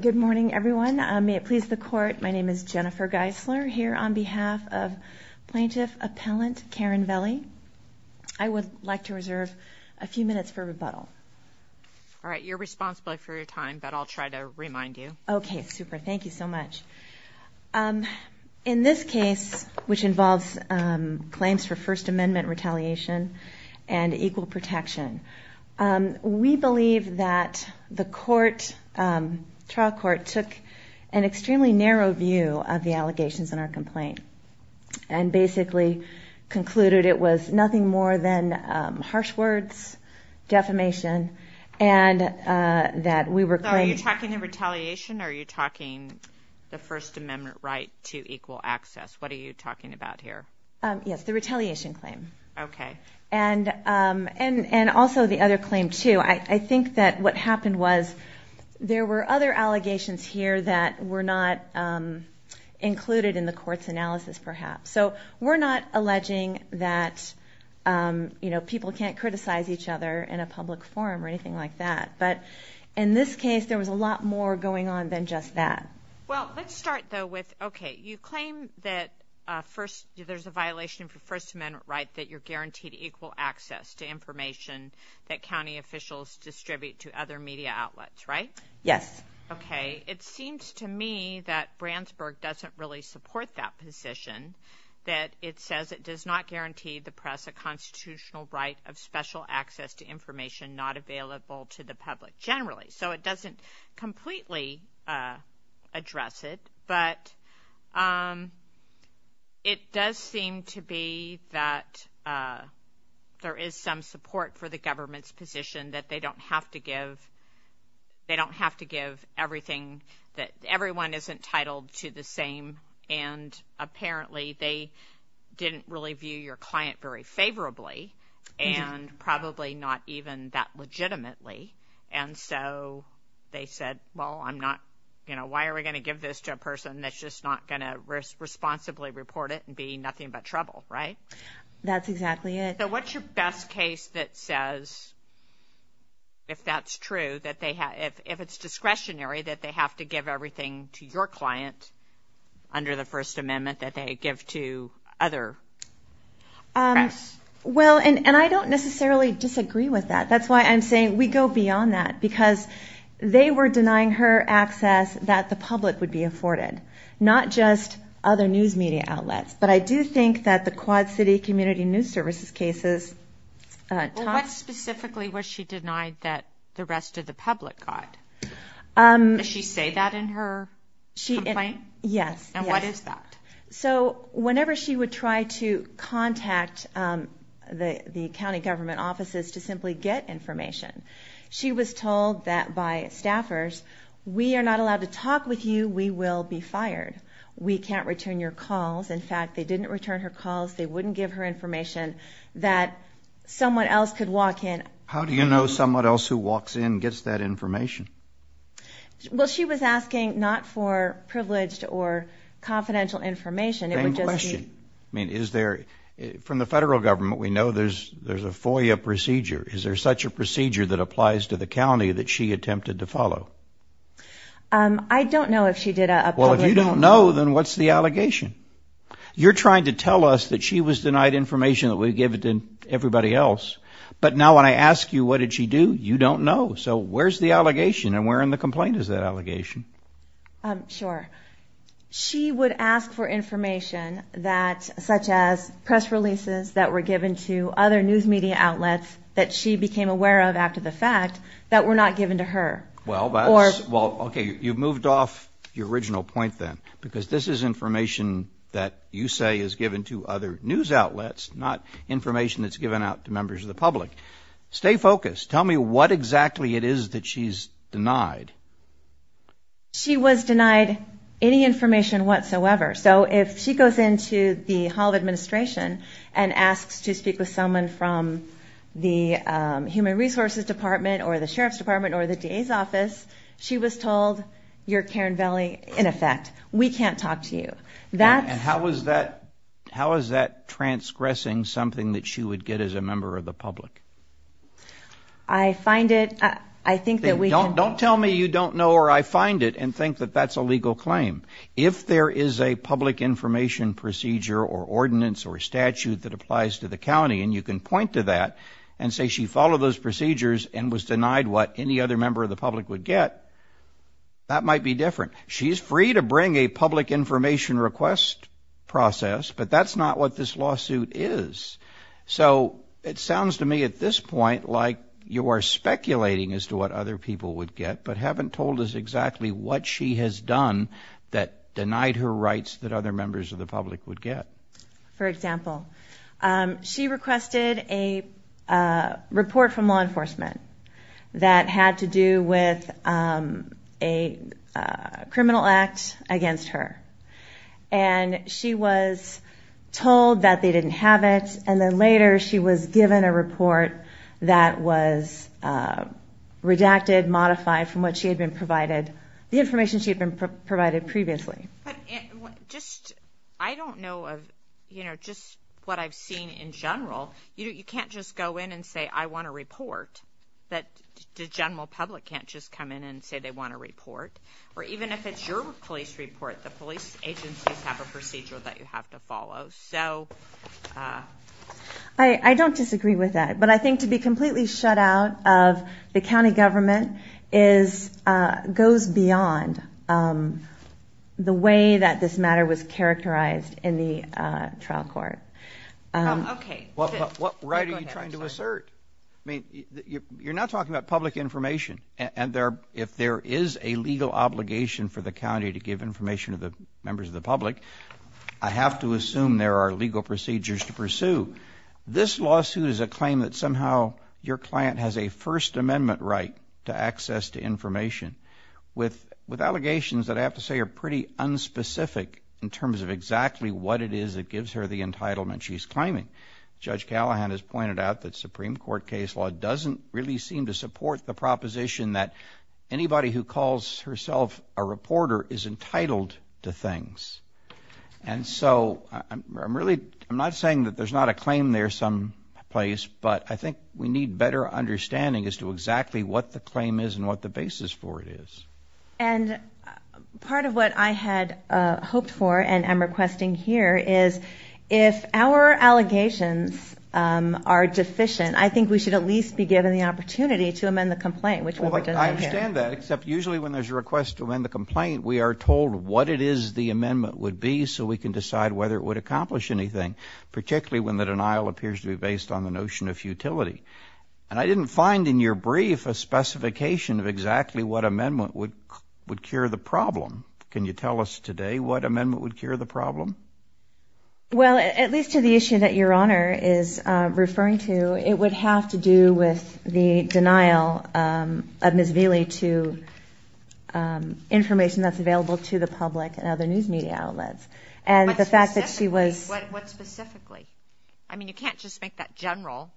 Good morning everyone. May it please the court my name is Jennifer Geisler here on behalf of plaintiff appellant Karen Velie. I would like to reserve a few minutes for rebuttal. All right you're responsible for your time but I'll try to remind you. Okay super thank you so much. In this case which involves claims for First Amendment retaliation and equal protection. We believe that the court, trial court, took an extremely narrow view of the allegations in our complaint and basically concluded it was nothing more than harsh words, defamation and that we were... Are you talking of retaliation? Are you talking the First Amendment right to equal access? What are you talking about here? Yes the retaliation claim. Okay. And also the other claim too. I think that what happened was there were other allegations here that were not included in the court's analysis perhaps. So we're not alleging that you know people can't criticize each other in a public forum or anything like that but in this case there was a lot more going on than just that. Well let's start though with okay you claim that first there's a violation for First Amendment right that you're guaranteed equal access to information that county officials distribute to other media outlets right? Yes. Okay it seems to me that Brandsburg doesn't really support that position that it says it does not guarantee the press a constitutional right of special access to information not available to the public generally. So it doesn't completely address it but it does seem to be that there is some support for the government's position that they don't have to give they don't have to give everything that everyone isn't titled to the same and apparently they didn't really view your client very favorably and probably not even that legitimately and so they said well I'm not you know why are we going to give this to a person that's just not gonna risk responsibly report it and be nothing but trouble right? That's exactly it. So what's your best case that says if that's true that they have if it's discretionary that they have to give everything to your client under the And I don't necessarily disagree with that that's why I'm saying we go beyond that because they were denying her access that the public would be afforded not just other news media outlets but I do think that the Quad City Community News Services cases. What specifically was she denied that the rest of the public got? Did she say that in her complaint? Yes. And what is that? So whenever she would try to contact the the county government offices to simply get information she was told that by staffers we are not allowed to talk with you we will be fired we can't return your calls in fact they didn't return her calls they wouldn't give her information that someone else could walk in. How do you know someone else who walks in gets that information? Well she was asking not for privileged or confidential information. Same question. I mean is there from the federal government we know there's there's a FOIA procedure is there such a procedure that applies to the county that she attempted to follow? I don't know if she did. Well if you don't know then what's the allegation? You're trying to tell us that she was denied information that we give it to everybody else but now when I ask you what did she do you don't know so where's the allegation and where in the complaint is that allegation? Sure she would ask for information that such as press releases that were given to other news media outlets that she became aware of after the fact that were not given to her. Well okay you've moved off your original point then because this is information that you say is given to other news outlets not information that's given out to members of the public. Stay focused tell me what exactly it is that she's denied. She was denied any information whatsoever so if she goes into the Hall of Administration and asks to speak with someone from the Human Resources Department or the Sheriff's Department or the DA's office she was told you're Karen Valley in effect we can't talk to you. And how was that how is that transgressing something that she would get as a member of the public? I find it I think that we don't don't tell me you don't know or I find it and think that that's a legal claim. If there is a public information procedure or ordinance or statute that applies to the county and you can point to that and say she followed those procedures and was denied what any other member of the public would get that might be different. She's free to bring a public information request process but that's not what this lawsuit is. So it sounds to me at this point like you are speculating as to what other people would get but haven't told us exactly what she has done that denied her rights that other members of the public would get. For example she requested a report from law that had to do with a criminal act against her and she was told that they didn't have it and then later she was given a report that was redacted modified from what she had been provided the information she had been provided previously. I don't know of you know just what I've seen in general you can't just go in and say I want a report that the general public can't just come in and say they want a report or even if it's your police report the police agencies have a procedure that you have to follow. So I don't disagree with that but I think to be completely shut out of the county government is goes beyond the way that this matter was characterized in the trial court. Okay. What right are you trying to assert? I mean you're not talking about public information and there if there is a legal obligation for the county to give information to the members of the public I have to assume there are legal procedures to pursue. This lawsuit is a claim that somehow your client has a First Amendment right to access to specific in terms of exactly what it is it gives her the entitlement she's claiming. Judge Callahan has pointed out that Supreme Court case law doesn't really seem to support the proposition that anybody who calls herself a reporter is entitled to things and so I'm really I'm not saying that there's not a claim there someplace but I think we need better understanding as to what I hoped for and I'm requesting here is if our allegations are deficient I think we should at least be given the opportunity to amend the complaint. I understand that except usually when there's a request to amend the complaint we are told what it is the amendment would be so we can decide whether it would accomplish anything particularly when the denial appears to be based on the notion of futility and I didn't find in your brief a specification of exactly what today what amendment would cure the problem? Well at least to the issue that your honor is referring to it would have to do with the denial of Ms. Vili to information that's available to the public and other news media outlets and the fact that she was... What specifically? I mean you can't just make that general.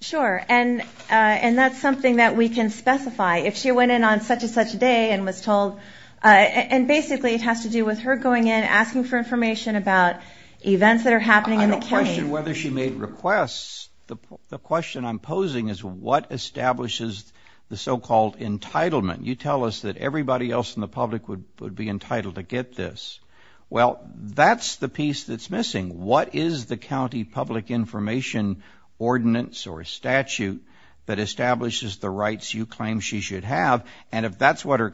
Sure and and that's something that we can specify if she went in on such-and-such day and was to do with her going in asking for information about events that are happening in the county. I don't question whether she made requests the question I'm posing is what establishes the so-called entitlement you tell us that everybody else in the public would would be entitled to get this well that's the piece that's missing what is the county public information ordinance or statute that establishes the rights you claim she should have and if that's what her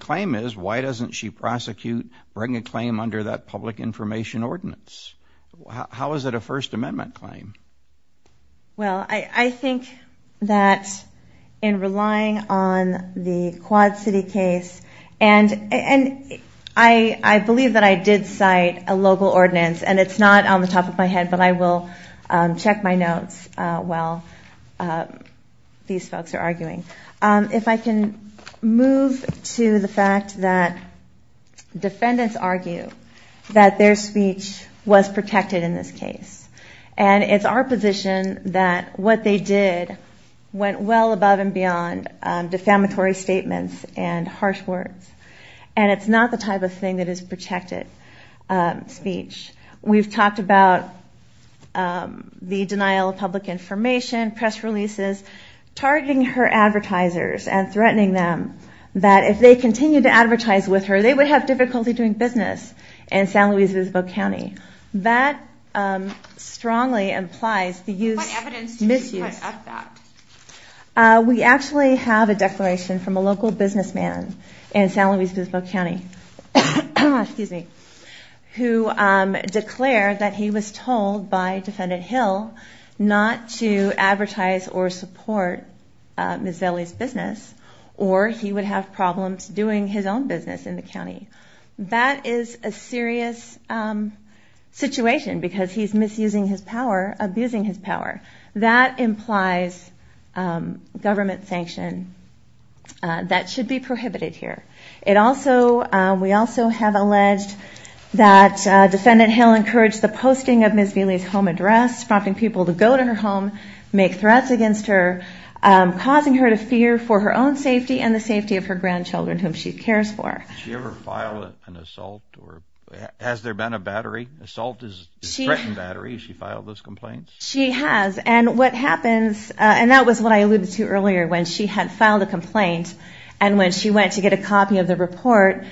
prosecute bring a claim under that public information ordinance how is that a First Amendment claim? Well I think that in relying on the Quad City case and and I I believe that I did cite a local ordinance and it's not on the top of my head but I will check my notes while these folks are arguing. If I can move to the fact that defendants argue that their speech was protected in this case and it's our position that what they did went well above and beyond defamatory statements and harsh words and it's not the type of thing that is protected speech we've talked about the denial of public information press releases targeting her advertisers and threatening them that if they continue to advertise with her they would have difficulty doing business in San Luis Visibo County that strongly implies the misuse of that. We actually have a declaration from a local businessman in San Luis Visibo County who declared that he was told by Defendant Hill not to advertise or support Ms. Velie's business or he would have problems doing his own business in the county. That is a serious situation because he's misusing his power, abusing his power. That implies government sanction that should be prohibited here. We also have alleged that the posting of Ms. Velie's home address, prompting people to go to her home, make threats against her, causing her to fear for her own safety and the safety of her grandchildren whom she cares for. Has she ever filed an assault? Has there been a battery? Assault is a threatened battery. Has she filed those complaints? She has and what happens and that was what I alluded to earlier when she had filed a complaint and when she went to get a copy of the report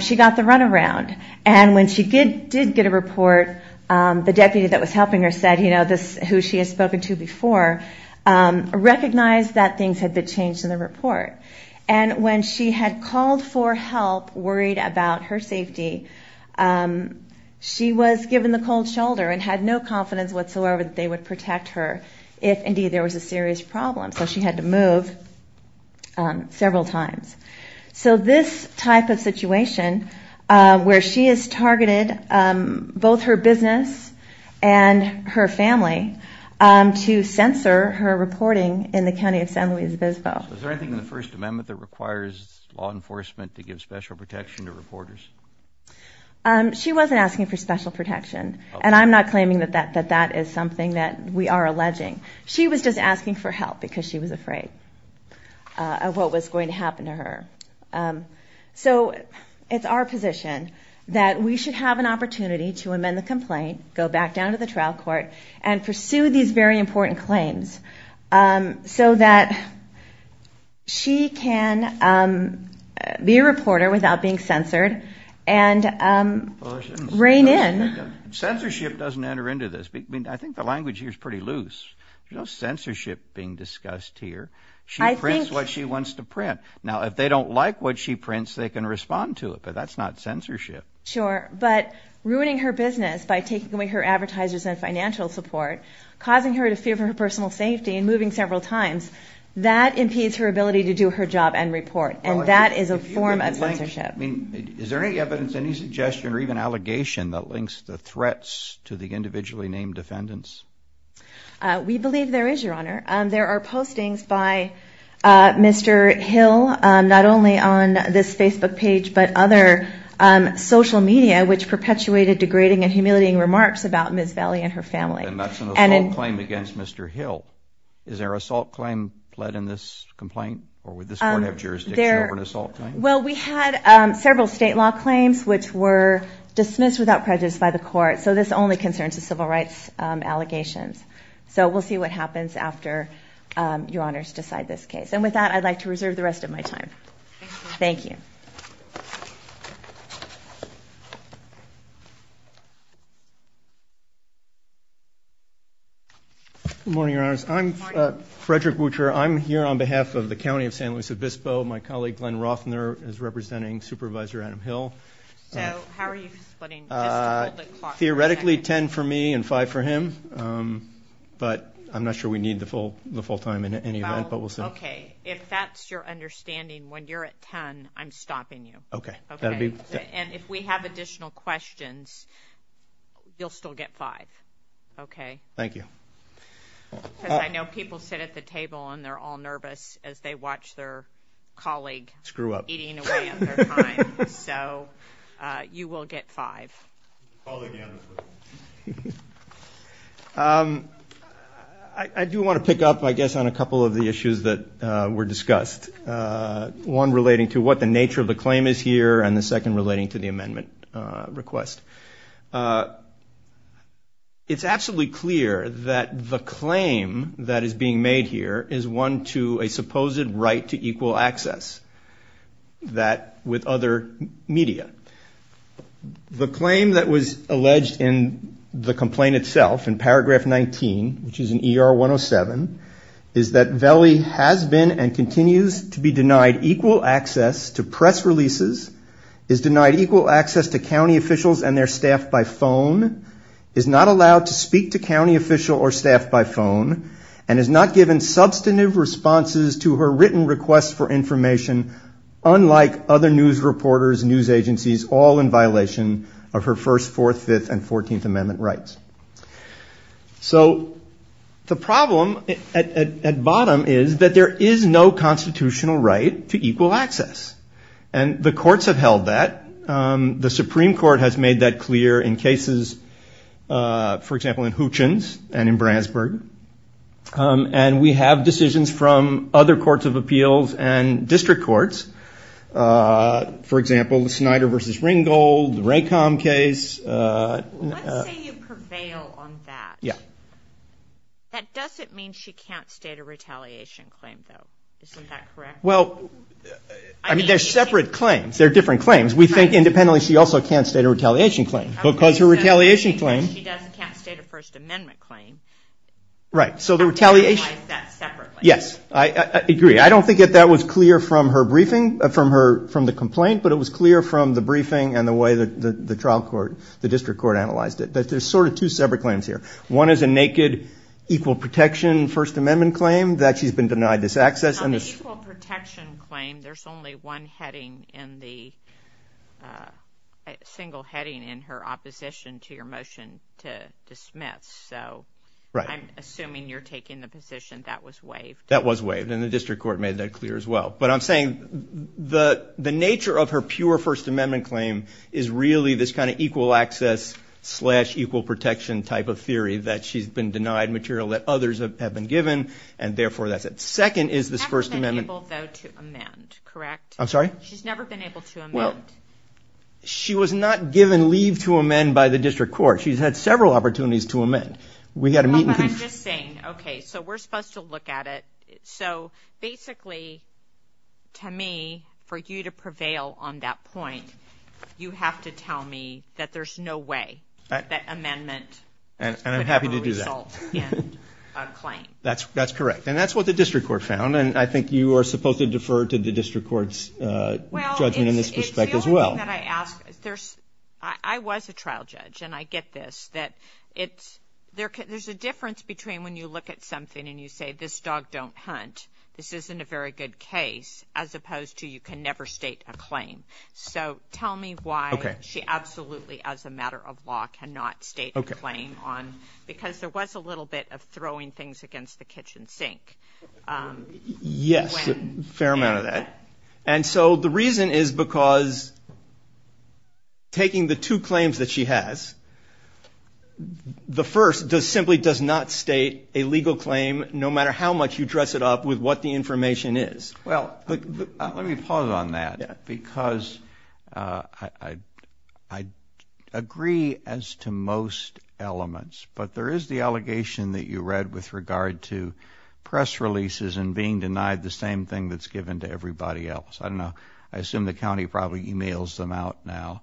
she got the runaround and when she did get a report the deputy that was helping her said who she had spoken to before recognized that things had been changed in the report and when she had called for help worried about her safety she was given the cold shoulder and had no confidence whatsoever that they would protect her if indeed there was a serious problem so she had to move several times. So this type of situation where she has targeted both her business and her family to censor her reporting in the county of San Luis Obispo. Is there anything in the First Amendment that requires law enforcement to give special protection to reporters? She wasn't asking for special protection and I'm not claiming that that is something that we are alleging. She was just asking for help because she was afraid of what was going to happen to her. So it's our position that we should have an opportunity to amend the complaint, go back down to the trial court and pursue these very important claims so that she can be a reporter without being censored and reign in. Censorship doesn't enter into this. I think the language here is pretty loose. There's no censorship being discussed here. She prints what she wants to print. Now if they don't like what she prints they can respond to it but that's not censorship. Sure but ruining her business by taking away her advertisers and financial support causing her to fear for her personal safety and moving several times that impedes her ability to do her job and report and that is a form of censorship. Is there any evidence, any suggestion or even allegation that links the threats to the individually named defendants? We believe there is, Your Honor. There are postings by Mr. Hill not only on this Facebook page but other social media which perpetuated degrading and humiliating remarks about Ms. Valley and her family. And that's an assault claim against Mr. Hill. Is there an assault claim in this complaint or would this court have jurisdiction over an assault claim? Well we had several state law claims which were dismissed without prejudice by the court so this only concerns the civil rights allegations. So we'll see what happens after Your Honors decide this case. And with that I'd like to reserve the rest of my time. Thank you. Good morning, Your Honors. I'm Frederick Butcher. I'm here on behalf of the County of San Luis Obispo. My colleague Glenn Rothner is representing Supervisor Adam Hill. So how are you splitting? Theoretically 10 for me and 5 for him but I'm not sure we need the full time in any event but we'll see. Okay. If that's your understanding when you're at 10 I'm stopping you. Okay. And if we have additional questions you'll still get 5. Okay? Thank you. Because I know people sit at the table and they're all nervous as they watch their colleague eating away at their time. Screw up. So you will get 5. Call again. I do want to pick up I guess on a couple of the issues that were discussed. One relating to what the nature of the claim is here and the second relating to the amendment request. It's absolutely clear that the claim that is being made here is one to a supposed right to equal access. That with other media. The claim that was alleged in the complaint itself in paragraph 19, which is in ER 107, is that Veli has been and continues to be denied equal access to press releases, is denied equal access to county officials and their staff by phone, is not allowed to speak to county official or staff by phone, and is not given substantive responses to her written request for information unlike other news reporters, news agencies, all in violation of her first, fourth, fifth, and 14th Amendment rights. So the problem at bottom is that there is no constitutional right to equal access. And the courts have held that. The Supreme Court has made that clear in cases, for example, in Hutchins and in Brandsburg. And we have decisions from other courts of appeals and district courts. For example, the Snyder v. Ringgold, the Raycom case. Let's say you prevail on that. Yeah. That doesn't mean she can't state a retaliation claim, though. Isn't that correct? Well, I mean, they're separate claims. They're different claims. We think independently she also can't state a retaliation claim because her retaliation claim. If she does, she can't state a First Amendment claim. Right. So the retaliation. That's separate. Yes, I agree. I don't think that that was clear from her briefing, from the complaint, but it was clear from the briefing and the way the trial court, the district court, analyzed it. There's sort of two separate claims here. One is a naked equal protection First Amendment claim that she's been denied this access. On the equal protection claim, there's only one heading in the single heading in her opposition to your motion to dismiss. So I'm assuming you're taking the position that was waived. That was waived, and the district court made that clear as well. But I'm saying the nature of her pure First Amendment claim is really this kind of equal access slash equal protection type of theory that she's been denied material that others have been given, and therefore that's it. The second is this First Amendment. She hasn't been able, though, to amend, correct? I'm sorry? She's never been able to amend. Well, she was not given leave to amend by the district court. She's had several opportunities to amend. But I'm just saying, okay, so we're supposed to look at it. So basically, to me, for you to prevail on that point, you have to tell me that there's no way that amendment could have a result in a claim. That's correct. And that's what the district court found, and I think you are supposed to defer to the district court's judgment in this respect as well. Well, it's the only thing that I ask. I was a trial judge, and I get this, that there's a difference between when you look at something and you say this dog don't hunt, this isn't a very good case, as opposed to you can never state a claim. So tell me why she absolutely, as a matter of law, cannot state a claim on because there was a little bit of throwing things against the kitchen sink. Yes, a fair amount of that. And so the reason is because taking the two claims that she has, the first simply does not state a legal claim, no matter how much you dress it up with what the information is. Well, let me pause on that because I agree as to most elements, but there is the allegation that you read with regard to press releases and being denied the same thing that's given to everybody else. I don't know. I assume the county probably emails them out now.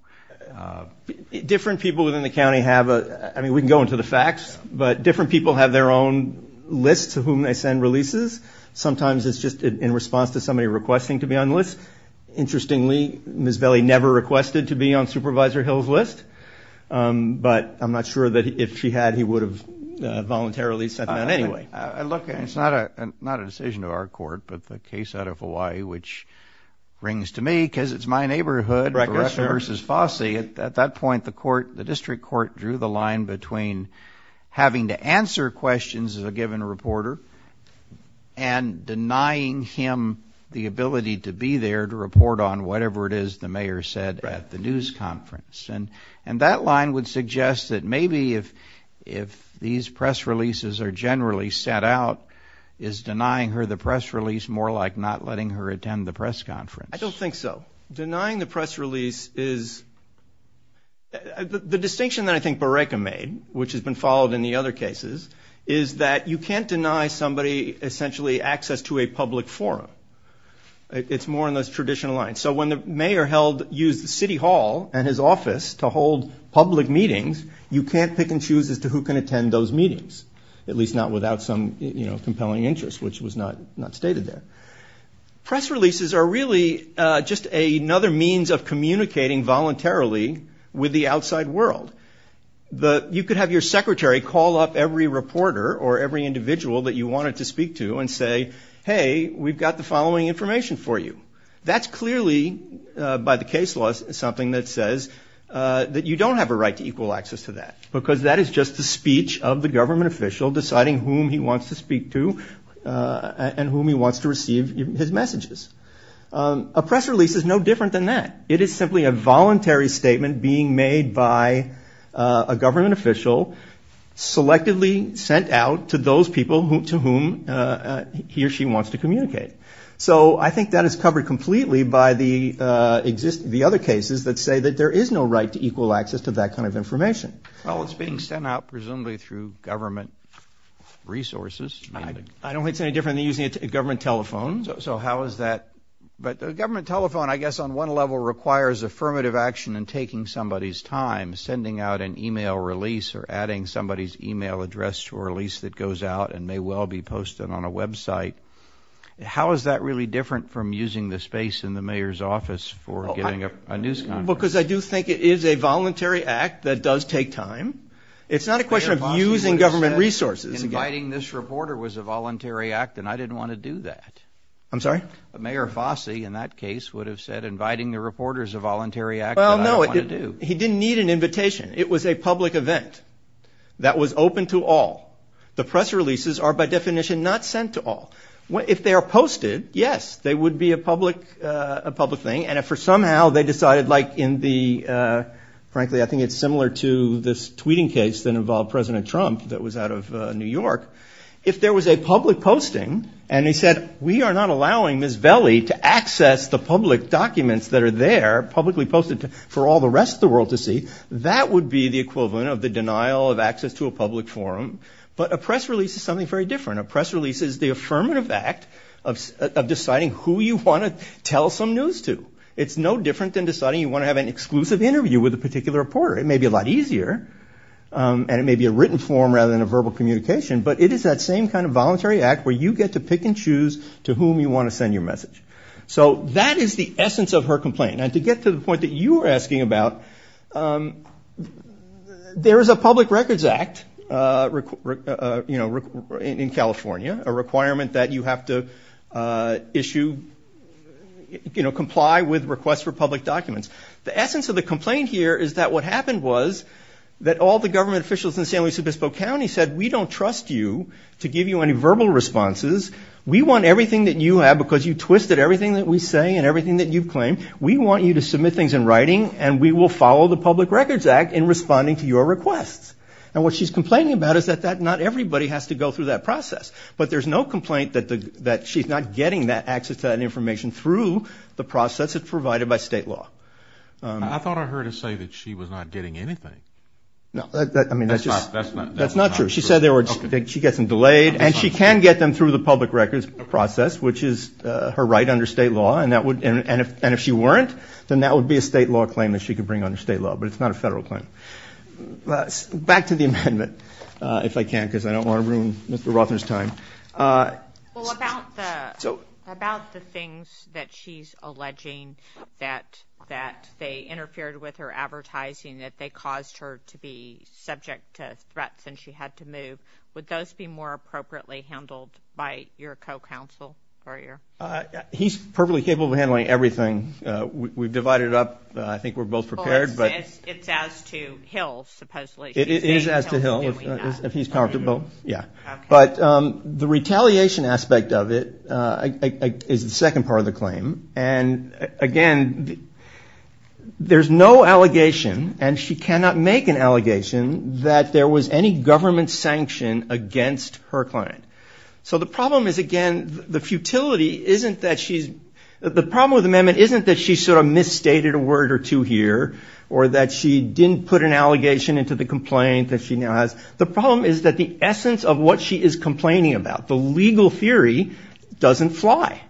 Different people within the county have a, I mean, we can go into the facts, but different people have their own list to whom they send releases. Sometimes it's just in response to somebody requesting to be on the list. Interestingly, Ms. Velie never requested to be on Supervisor Hill's list, but I'm not sure that if she had, he would have voluntarily sent them out anyway. Look, it's not a decision to our court, but the case out of Hawaii, which rings to me because it's my neighborhood. Correct, sir. Beruccia v. Fossey. At that point, the court, the district court, drew the line between having to answer questions of a given reporter and denying him the ability to be there to report on whatever it is the mayor said at the news conference. And that line would suggest that maybe if these press releases are generally sent out, is denying her the press release more like not letting her attend the press conference? I don't think so. Denying the press release is the distinction that I think Beruccia made, which has been followed in the other cases, is that you can't deny somebody essentially access to a public forum. It's more in those traditional lines. So when the mayor used the city hall and his office to hold public meetings, you can't pick and choose as to who can attend those meetings, at least not without some compelling interest, which was not stated there. Press releases are really just another means of communicating voluntarily with the outside world. You could have your secretary call up every reporter or every individual that you wanted to speak to and say, hey, we've got the following information for you. That's clearly, by the case laws, something that says that you don't have a right to equal access to that because that is just the speech of the government official deciding whom he wants to speak to and whom he wants to receive his messages. A press release is no different than that. It is simply a voluntary statement being made by a government official, selectively sent out to those people to whom he or she wants to communicate. So I think that is covered completely by the other cases that say that there is no right to equal access to that kind of information. Well, it's being sent out presumably through government resources. I don't think it's any different than using a government telephone. So how is that? But a government telephone I guess on one level requires affirmative action in taking somebody's time, sending out an e-mail release or adding somebody's e-mail address to a release that goes out and may well be posted on a website. How is that really different from using the space in the mayor's office for getting a news conference? Because I do think it is a voluntary act that does take time. It's not a question of using government resources. Inviting this reporter was a voluntary act, and I didn't want to do that. I'm sorry? Mayor Fossey in that case would have said, inviting the reporter is a voluntary act that I don't want to do. Well, no, he didn't need an invitation. It was a public event that was open to all. The press releases are by definition not sent to all. If they are posted, yes, they would be a public thing, and if for somehow they decided like in the, frankly, I think it's similar to this tweeting case that involved President Trump that was out of New York. If there was a public posting and he said, we are not allowing Ms. Velie to access the public documents that are there, publicly posted for all the rest of the world to see, that would be the equivalent of the denial of access to a public forum. But a press release is something very different. A press release is the affirmative act of deciding who you want to tell some news to. It's no different than deciding you want to have an exclusive interview with a particular reporter. It may be a lot easier, and it may be a written form rather than a verbal communication, but it is that same kind of voluntary act where you get to pick and choose to whom you want to send your message. So that is the essence of her complaint. And to get to the point that you were asking about, there is a public records act in California, a requirement that you have to issue, you know, comply with requests for public documents. The essence of the complaint here is that what happened was that all the government officials in San Luis Obispo County said, we don't trust you to give you any verbal responses. We want everything that you have because you twisted everything that we say and everything that you've claimed. We want you to submit things in writing, and we will follow the public records act in responding to your requests. And what she's complaining about is that not everybody has to go through that process. But there's no complaint that she's not getting that access to that information through the process that's provided by state law. I thought I heard her say that she was not getting anything. That's not true. She said she gets them delayed, and she can get them through the public records process, which is her right under state law. And if she weren't, then that would be a state law claim that she could bring under state law. But it's not a federal claim. Back to the amendment, if I can, because I don't want to ruin Mr. Rothner's time. Well, about the things that she's alleging, that they interfered with her advertising, that they caused her to be subject to threats and she had to move, would those be more appropriately handled by your co-counsel? He's perfectly capable of handling everything. We've divided it up. I think we're both prepared. It's as to Hill, supposedly. It is as to Hill, if he's comfortable. But the retaliation aspect of it is the second part of the claim. And, again, there's no allegation, and she cannot make an allegation, that there was any government sanction against her client. So the problem is, again, the futility isn't that she's – the problem with the amendment isn't that she sort of misstated a word or two here or that she didn't put an allegation into the complaint that she now has. The problem is that the essence of what she is complaining about, the legal theory, doesn't fly.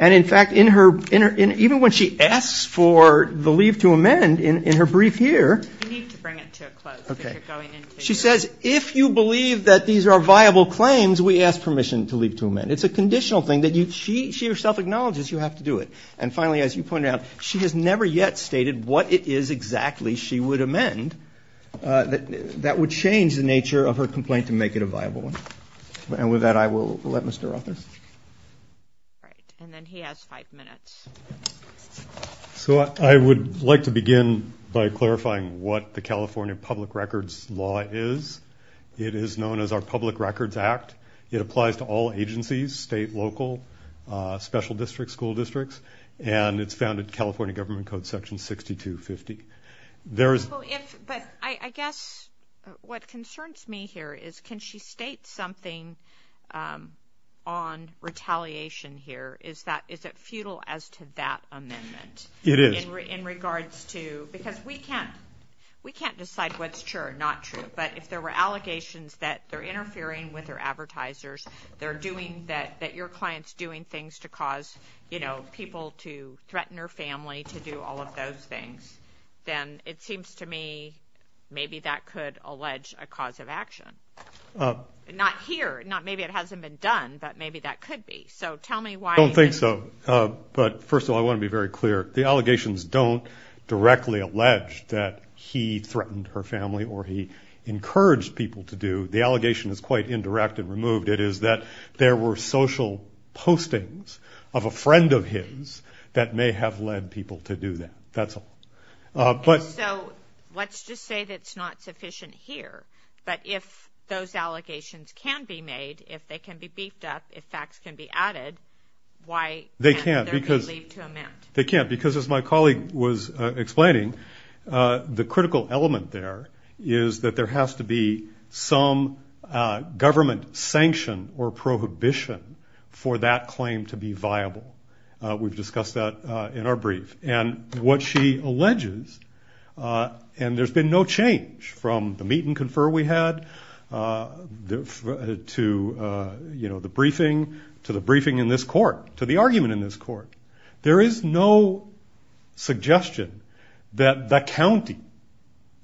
And, in fact, even when she asks for the leave to amend in her brief here – You need to bring it to a close. She says, if you believe that these are viable claims, we ask permission to leave to amend. It's a conditional thing that she herself acknowledges you have to do it. And, finally, as you pointed out, she has never yet stated what it is exactly she would amend that would change the nature of her complaint to make it a viable one. And with that, I will let Mr. Rothers. All right, and then he has five minutes. So I would like to begin by clarifying what the California Public Records Law is. It is known as our Public Records Act. It applies to all agencies, state, local, special districts, school districts, and it's found in California Government Code Section 6250. But I guess what concerns me here is can she state something on retaliation here? Is it futile as to that amendment? It is. In regards to – because we can't decide what's true or not true. But if there were allegations that they're interfering with their advertisers, they're doing – that your client's doing things to cause people to threaten her family, to do all of those things, then it seems to me maybe that could allege a cause of action. Not here. Maybe it hasn't been done, but maybe that could be. So tell me why. I don't think so. But, first of all, I want to be very clear. The allegations don't directly allege that he threatened her family or he encouraged people to do. The allegation is quite indirect and removed. It is that there were social postings of a friend of his that may have led people to do that. That's all. So let's just say that's not sufficient here. But if those allegations can be made, if they can be beefed up, if facts can be added, why can't there be leave to amend? They can't because, as my colleague was explaining, the critical element there is that there has to be some government sanction or prohibition for that claim to be viable. We've discussed that in our brief. And what she alleges, and there's been no change from the meet and confer we had to the briefing in this court, to the argument in this court, there is no suggestion that the county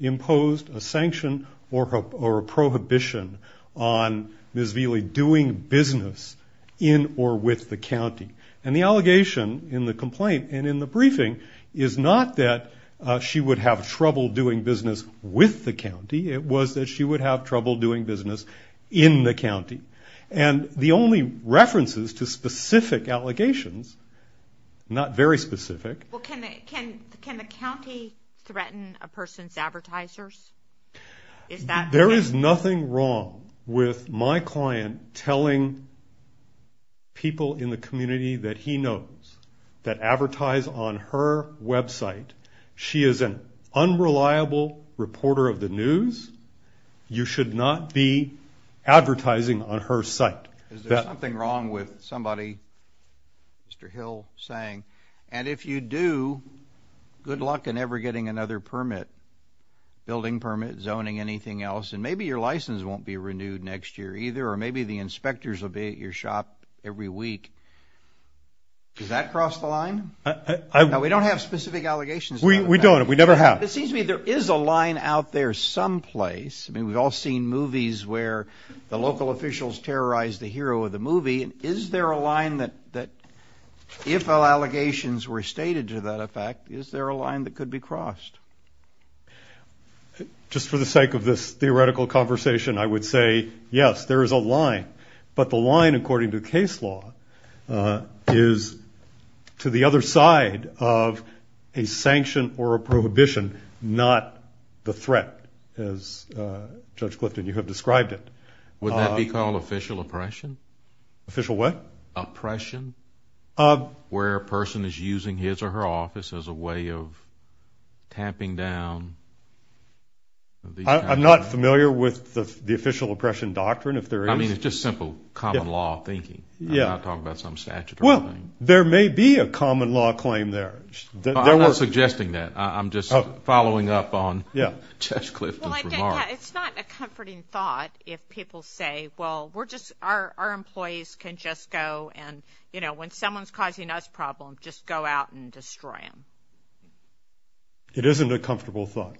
imposed a sanction or a prohibition on Ms. Velie doing business in or with the county. And the allegation in the complaint and in the briefing is not that she would have trouble doing business with the county. It was that she would have trouble doing business in the county. And the only references to specific allegations, not very specific. Well, can the county threaten a person's advertisers? There is nothing wrong with my client telling people in the community that he knows that advertise on her website. She is an unreliable reporter of the news. You should not be advertising on her site. Is there something wrong with somebody, Mr. Hill, saying, and if you do, good luck in ever getting another permit, building permit, zoning, anything else, and maybe your license won't be renewed next year either, or maybe the inspectors will be at your shop every week. Does that cross the line? We don't have specific allegations. We don't. We never have. It seems to me there is a line out there someplace. I mean, we've all seen movies where the local officials terrorize the hero of the movie. And is there a line that if allegations were stated to that effect, is there a line that could be crossed? Just for the sake of this theoretical conversation, I would say, yes, there is a line. But the line, according to case law, is to the other side of a sanction or a prohibition, not the threat, as Judge Clifton, you have described it. Would that be called official oppression? Official what? Oppression. Where a person is using his or her office as a way of tamping down. I'm not familiar with the official oppression doctrine. I mean, it's just simple common law thinking. I'm not talking about some statutory thing. Well, there may be a common law claim there. I'm not suggesting that. I'm just following up on Judge Clifton's remarks. It's not a comforting thought if people say, well, our employees can just go and, you know, when someone's causing us problems, just go out and destroy them. It isn't a comfortable thought.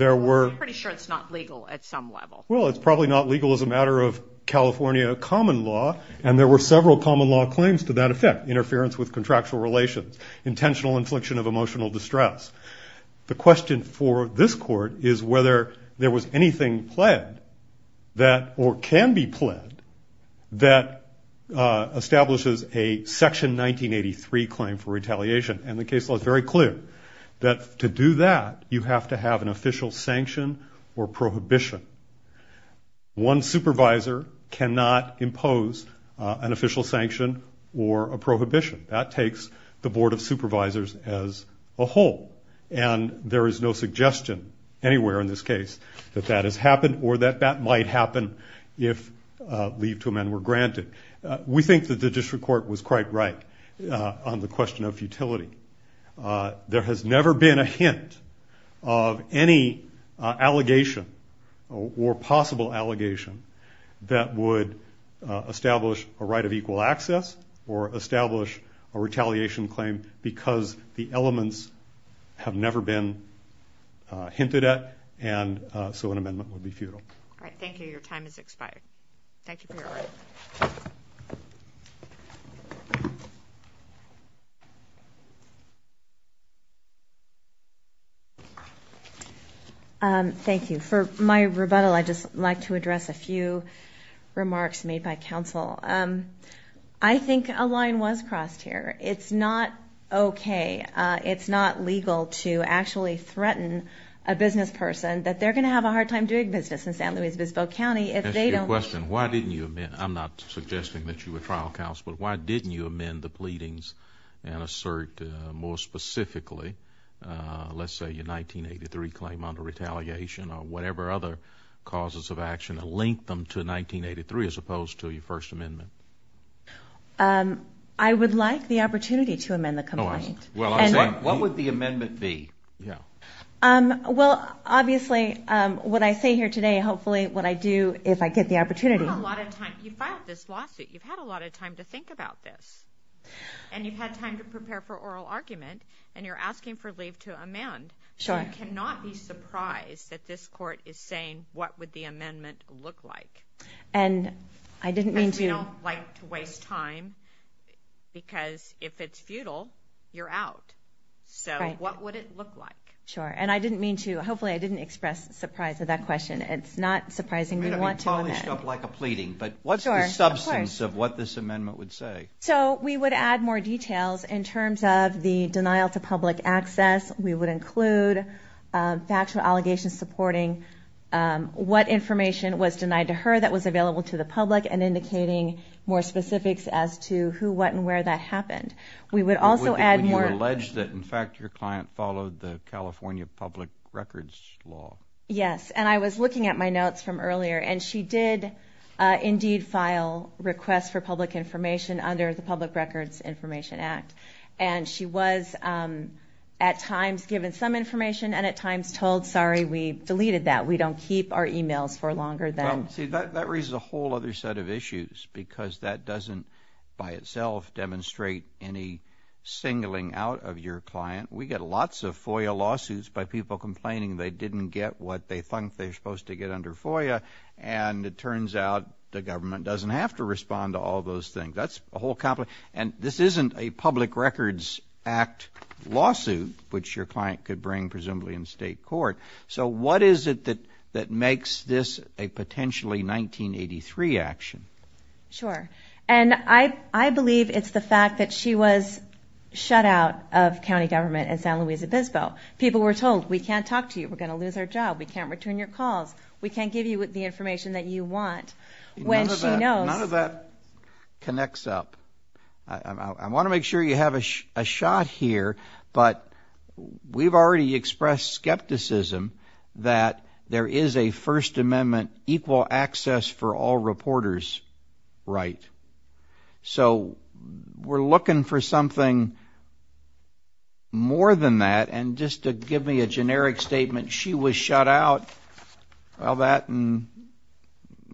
I'm pretty sure it's not legal at some level. Well, it's probably not legal as a matter of California common law, and there were several common law claims to that effect, interference with contractual relations, intentional infliction of emotional distress. The question for this court is whether there was anything pled that or can be pled that establishes a Section 1983 claim for retaliation. And the case law is very clear that to do that, you have to have an official sanction or prohibition. One supervisor cannot impose an official sanction or a prohibition. That takes the Board of Supervisors as a whole, and there is no suggestion anywhere in this case that that has happened or that that might happen if leave to amend were granted. We think that the district court was quite right on the question of futility. There has never been a hint of any allegation or possible allegation that would establish a right of equal access or establish a retaliation claim because the elements have never been hinted at, and so an amendment would be futile. All right, thank you. Your time has expired. Thank you for your time. Thank you. For my rebuttal, I'd just like to address a few remarks made by counsel. I think a line was crossed here. It's not okay. It's not legal to actually threaten a business person that they're going to have a hard time doing business in San Luis Obispo County if they don't... To answer your question, why didn't you amend... I'm not suggesting that you would trial counsel, but why didn't you amend the pleadings and assert more specifically, let's say, your 1983 claim under retaliation or whatever other causes of action and link them to 1983 as opposed to your First Amendment? I would like the opportunity to amend the complaint. What would the amendment be? Well, obviously what I say here today, hopefully what I do if I get the opportunity... You've had a lot of time. You filed this lawsuit. You've had a lot of time to think about this, and you've had time to prepare for oral argument, and you're asking for leave to amend. Sure. I cannot be surprised that this Court is saying what would the amendment look like. And I didn't mean to... Because we don't like to waste time, because if it's futile, you're out. So what would it look like? Sure, and I didn't mean to... Hopefully I didn't express surprise at that question. It's not surprising we want to amend. We're going to be polished up like a pleading, but what's the substance of what this amendment would say? So we would add more details in terms of the denial to public access. We would include factual allegations supporting what information was denied to her that was available to the public, and indicating more specifics as to who, what, and where that happened. We would also add more... Would you allege that, in fact, your client followed the California public records law? Yes, and I was looking at my notes from earlier, and she did indeed file requests for public information under the Public Records Information Act. And she was at times given some information, and at times told, sorry, we deleted that. We don't keep our emails for longer than... See, that raises a whole other set of issues, because that doesn't by itself demonstrate any singling out of your client. We get lots of FOIA lawsuits by people complaining they didn't get what they think they're supposed to get under FOIA, and it turns out the government doesn't have to respond to all those things. That's a whole... And this isn't a Public Records Act lawsuit, which your client could bring presumably in state court. So what is it that makes this a potentially 1983 action? Sure. And I believe it's the fact that she was shut out of county government in San Luis Obispo. People were told, we can't talk to you. We're going to lose our job. We can't return your calls. We can't give you the information that you want. None of that connects up. I want to make sure you have a shot here, but we've already expressed skepticism that there is a First Amendment equal access for all reporters right. So we're looking for something more than that, and just to give me a generic statement, she was shut out of that, and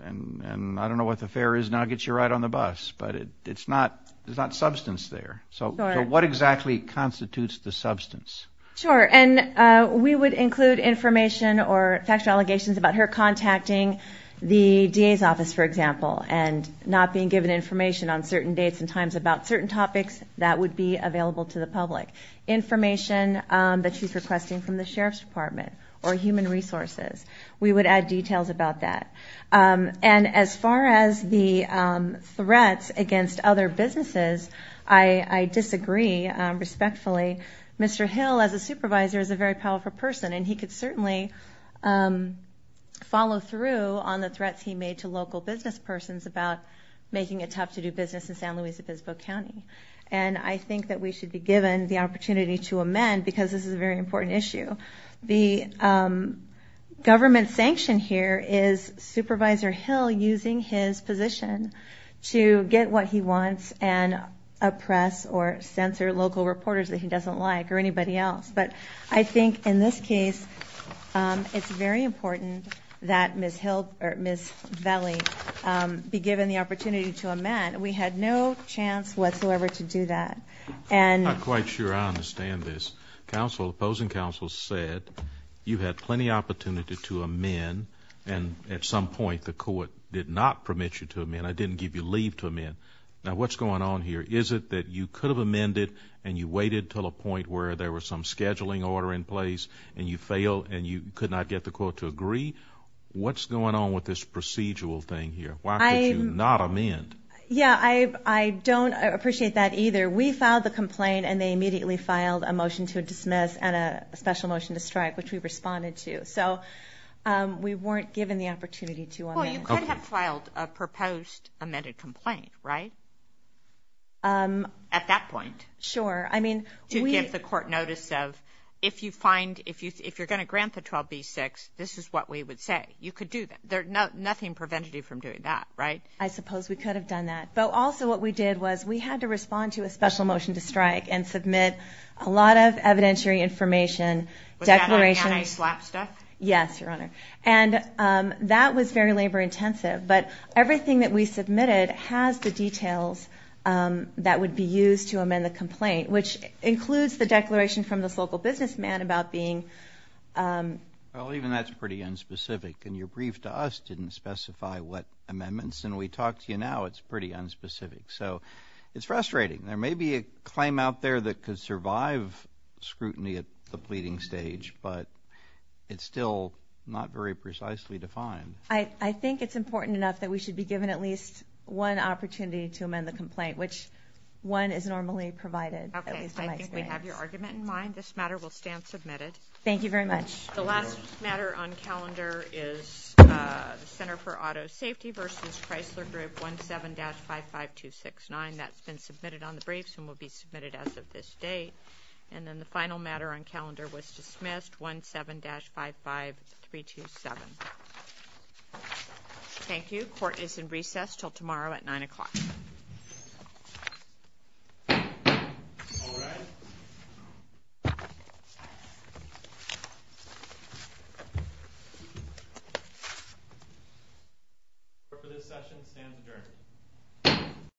I don't know what the affair is now. I'll get you right on the bus. But there's not substance there. So what exactly constitutes the substance? Sure, and we would include information or factual allegations about her contacting the DA's office, for example, and not being given information on certain dates and times about certain topics that would be available to the public. Information that she's requesting from the Sheriff's Department or human resources. We would add details about that. And as far as the threats against other businesses, I disagree respectfully. Mr. Hill, as a supervisor, is a very powerful person, and he could certainly follow through on the threats he made to local businesspersons about making it tough to do business in San Luis Obispo County. And I think that we should be given the opportunity to amend, because this is a very important issue. The government sanction here is Supervisor Hill using his position to get what he wants and oppress or censor local reporters that he doesn't like or anybody else. But I think in this case, it's very important that Ms. Valley be given the opportunity to amend. We had no chance whatsoever to do that. I'm not quite sure I understand this. The opposing counsel said you had plenty of opportunity to amend, and at some point the court did not permit you to amend. I didn't give you leave to amend. Now, what's going on here? Is it that you could have amended and you waited until a point where there was some scheduling order in place and you failed and you could not get the court to agree? What's going on with this procedural thing here? Why could you not amend? Yeah, I don't appreciate that either. We filed the complaint, and they immediately filed a motion to dismiss and a special motion to strike, which we responded to. So we weren't given the opportunity to amend. Well, you could have filed a proposed amended complaint, right? At that point. Sure. I mean, we – To give the court notice of if you find – if you're going to grant the 12b-6, this is what we would say. You could do that. Nothing prevented you from doing that, right? I suppose we could have done that. But also what we did was we had to respond to a special motion to strike and submit a lot of evidentiary information, declarations. Was that on anti-slap stuff? Yes, Your Honor. And that was very labor-intensive. But everything that we submitted has the details that would be used to amend the complaint, which includes the declaration from this local businessman about being – Well, even that's pretty unspecific. And your brief to us didn't specify what amendments. And we talk to you now. It's pretty unspecific. So it's frustrating. There may be a claim out there that could survive scrutiny at the pleading stage, but it's still not very precisely defined. I think it's important enough that we should be given at least one opportunity to amend the complaint, which one is normally provided, at least in my experience. Okay. I think we have your argument in mind. This matter will stand submitted. Thank you very much. The last matter on calendar is the Center for Auto Safety v. Chrysler Group 17-55269. That's been submitted on the briefs and will be submitted as of this date. And then the final matter on calendar was dismissed, 17-55327. Thank you. Court is in recess until tomorrow at 9 o'clock. All rise. Court for this session stands adjourned.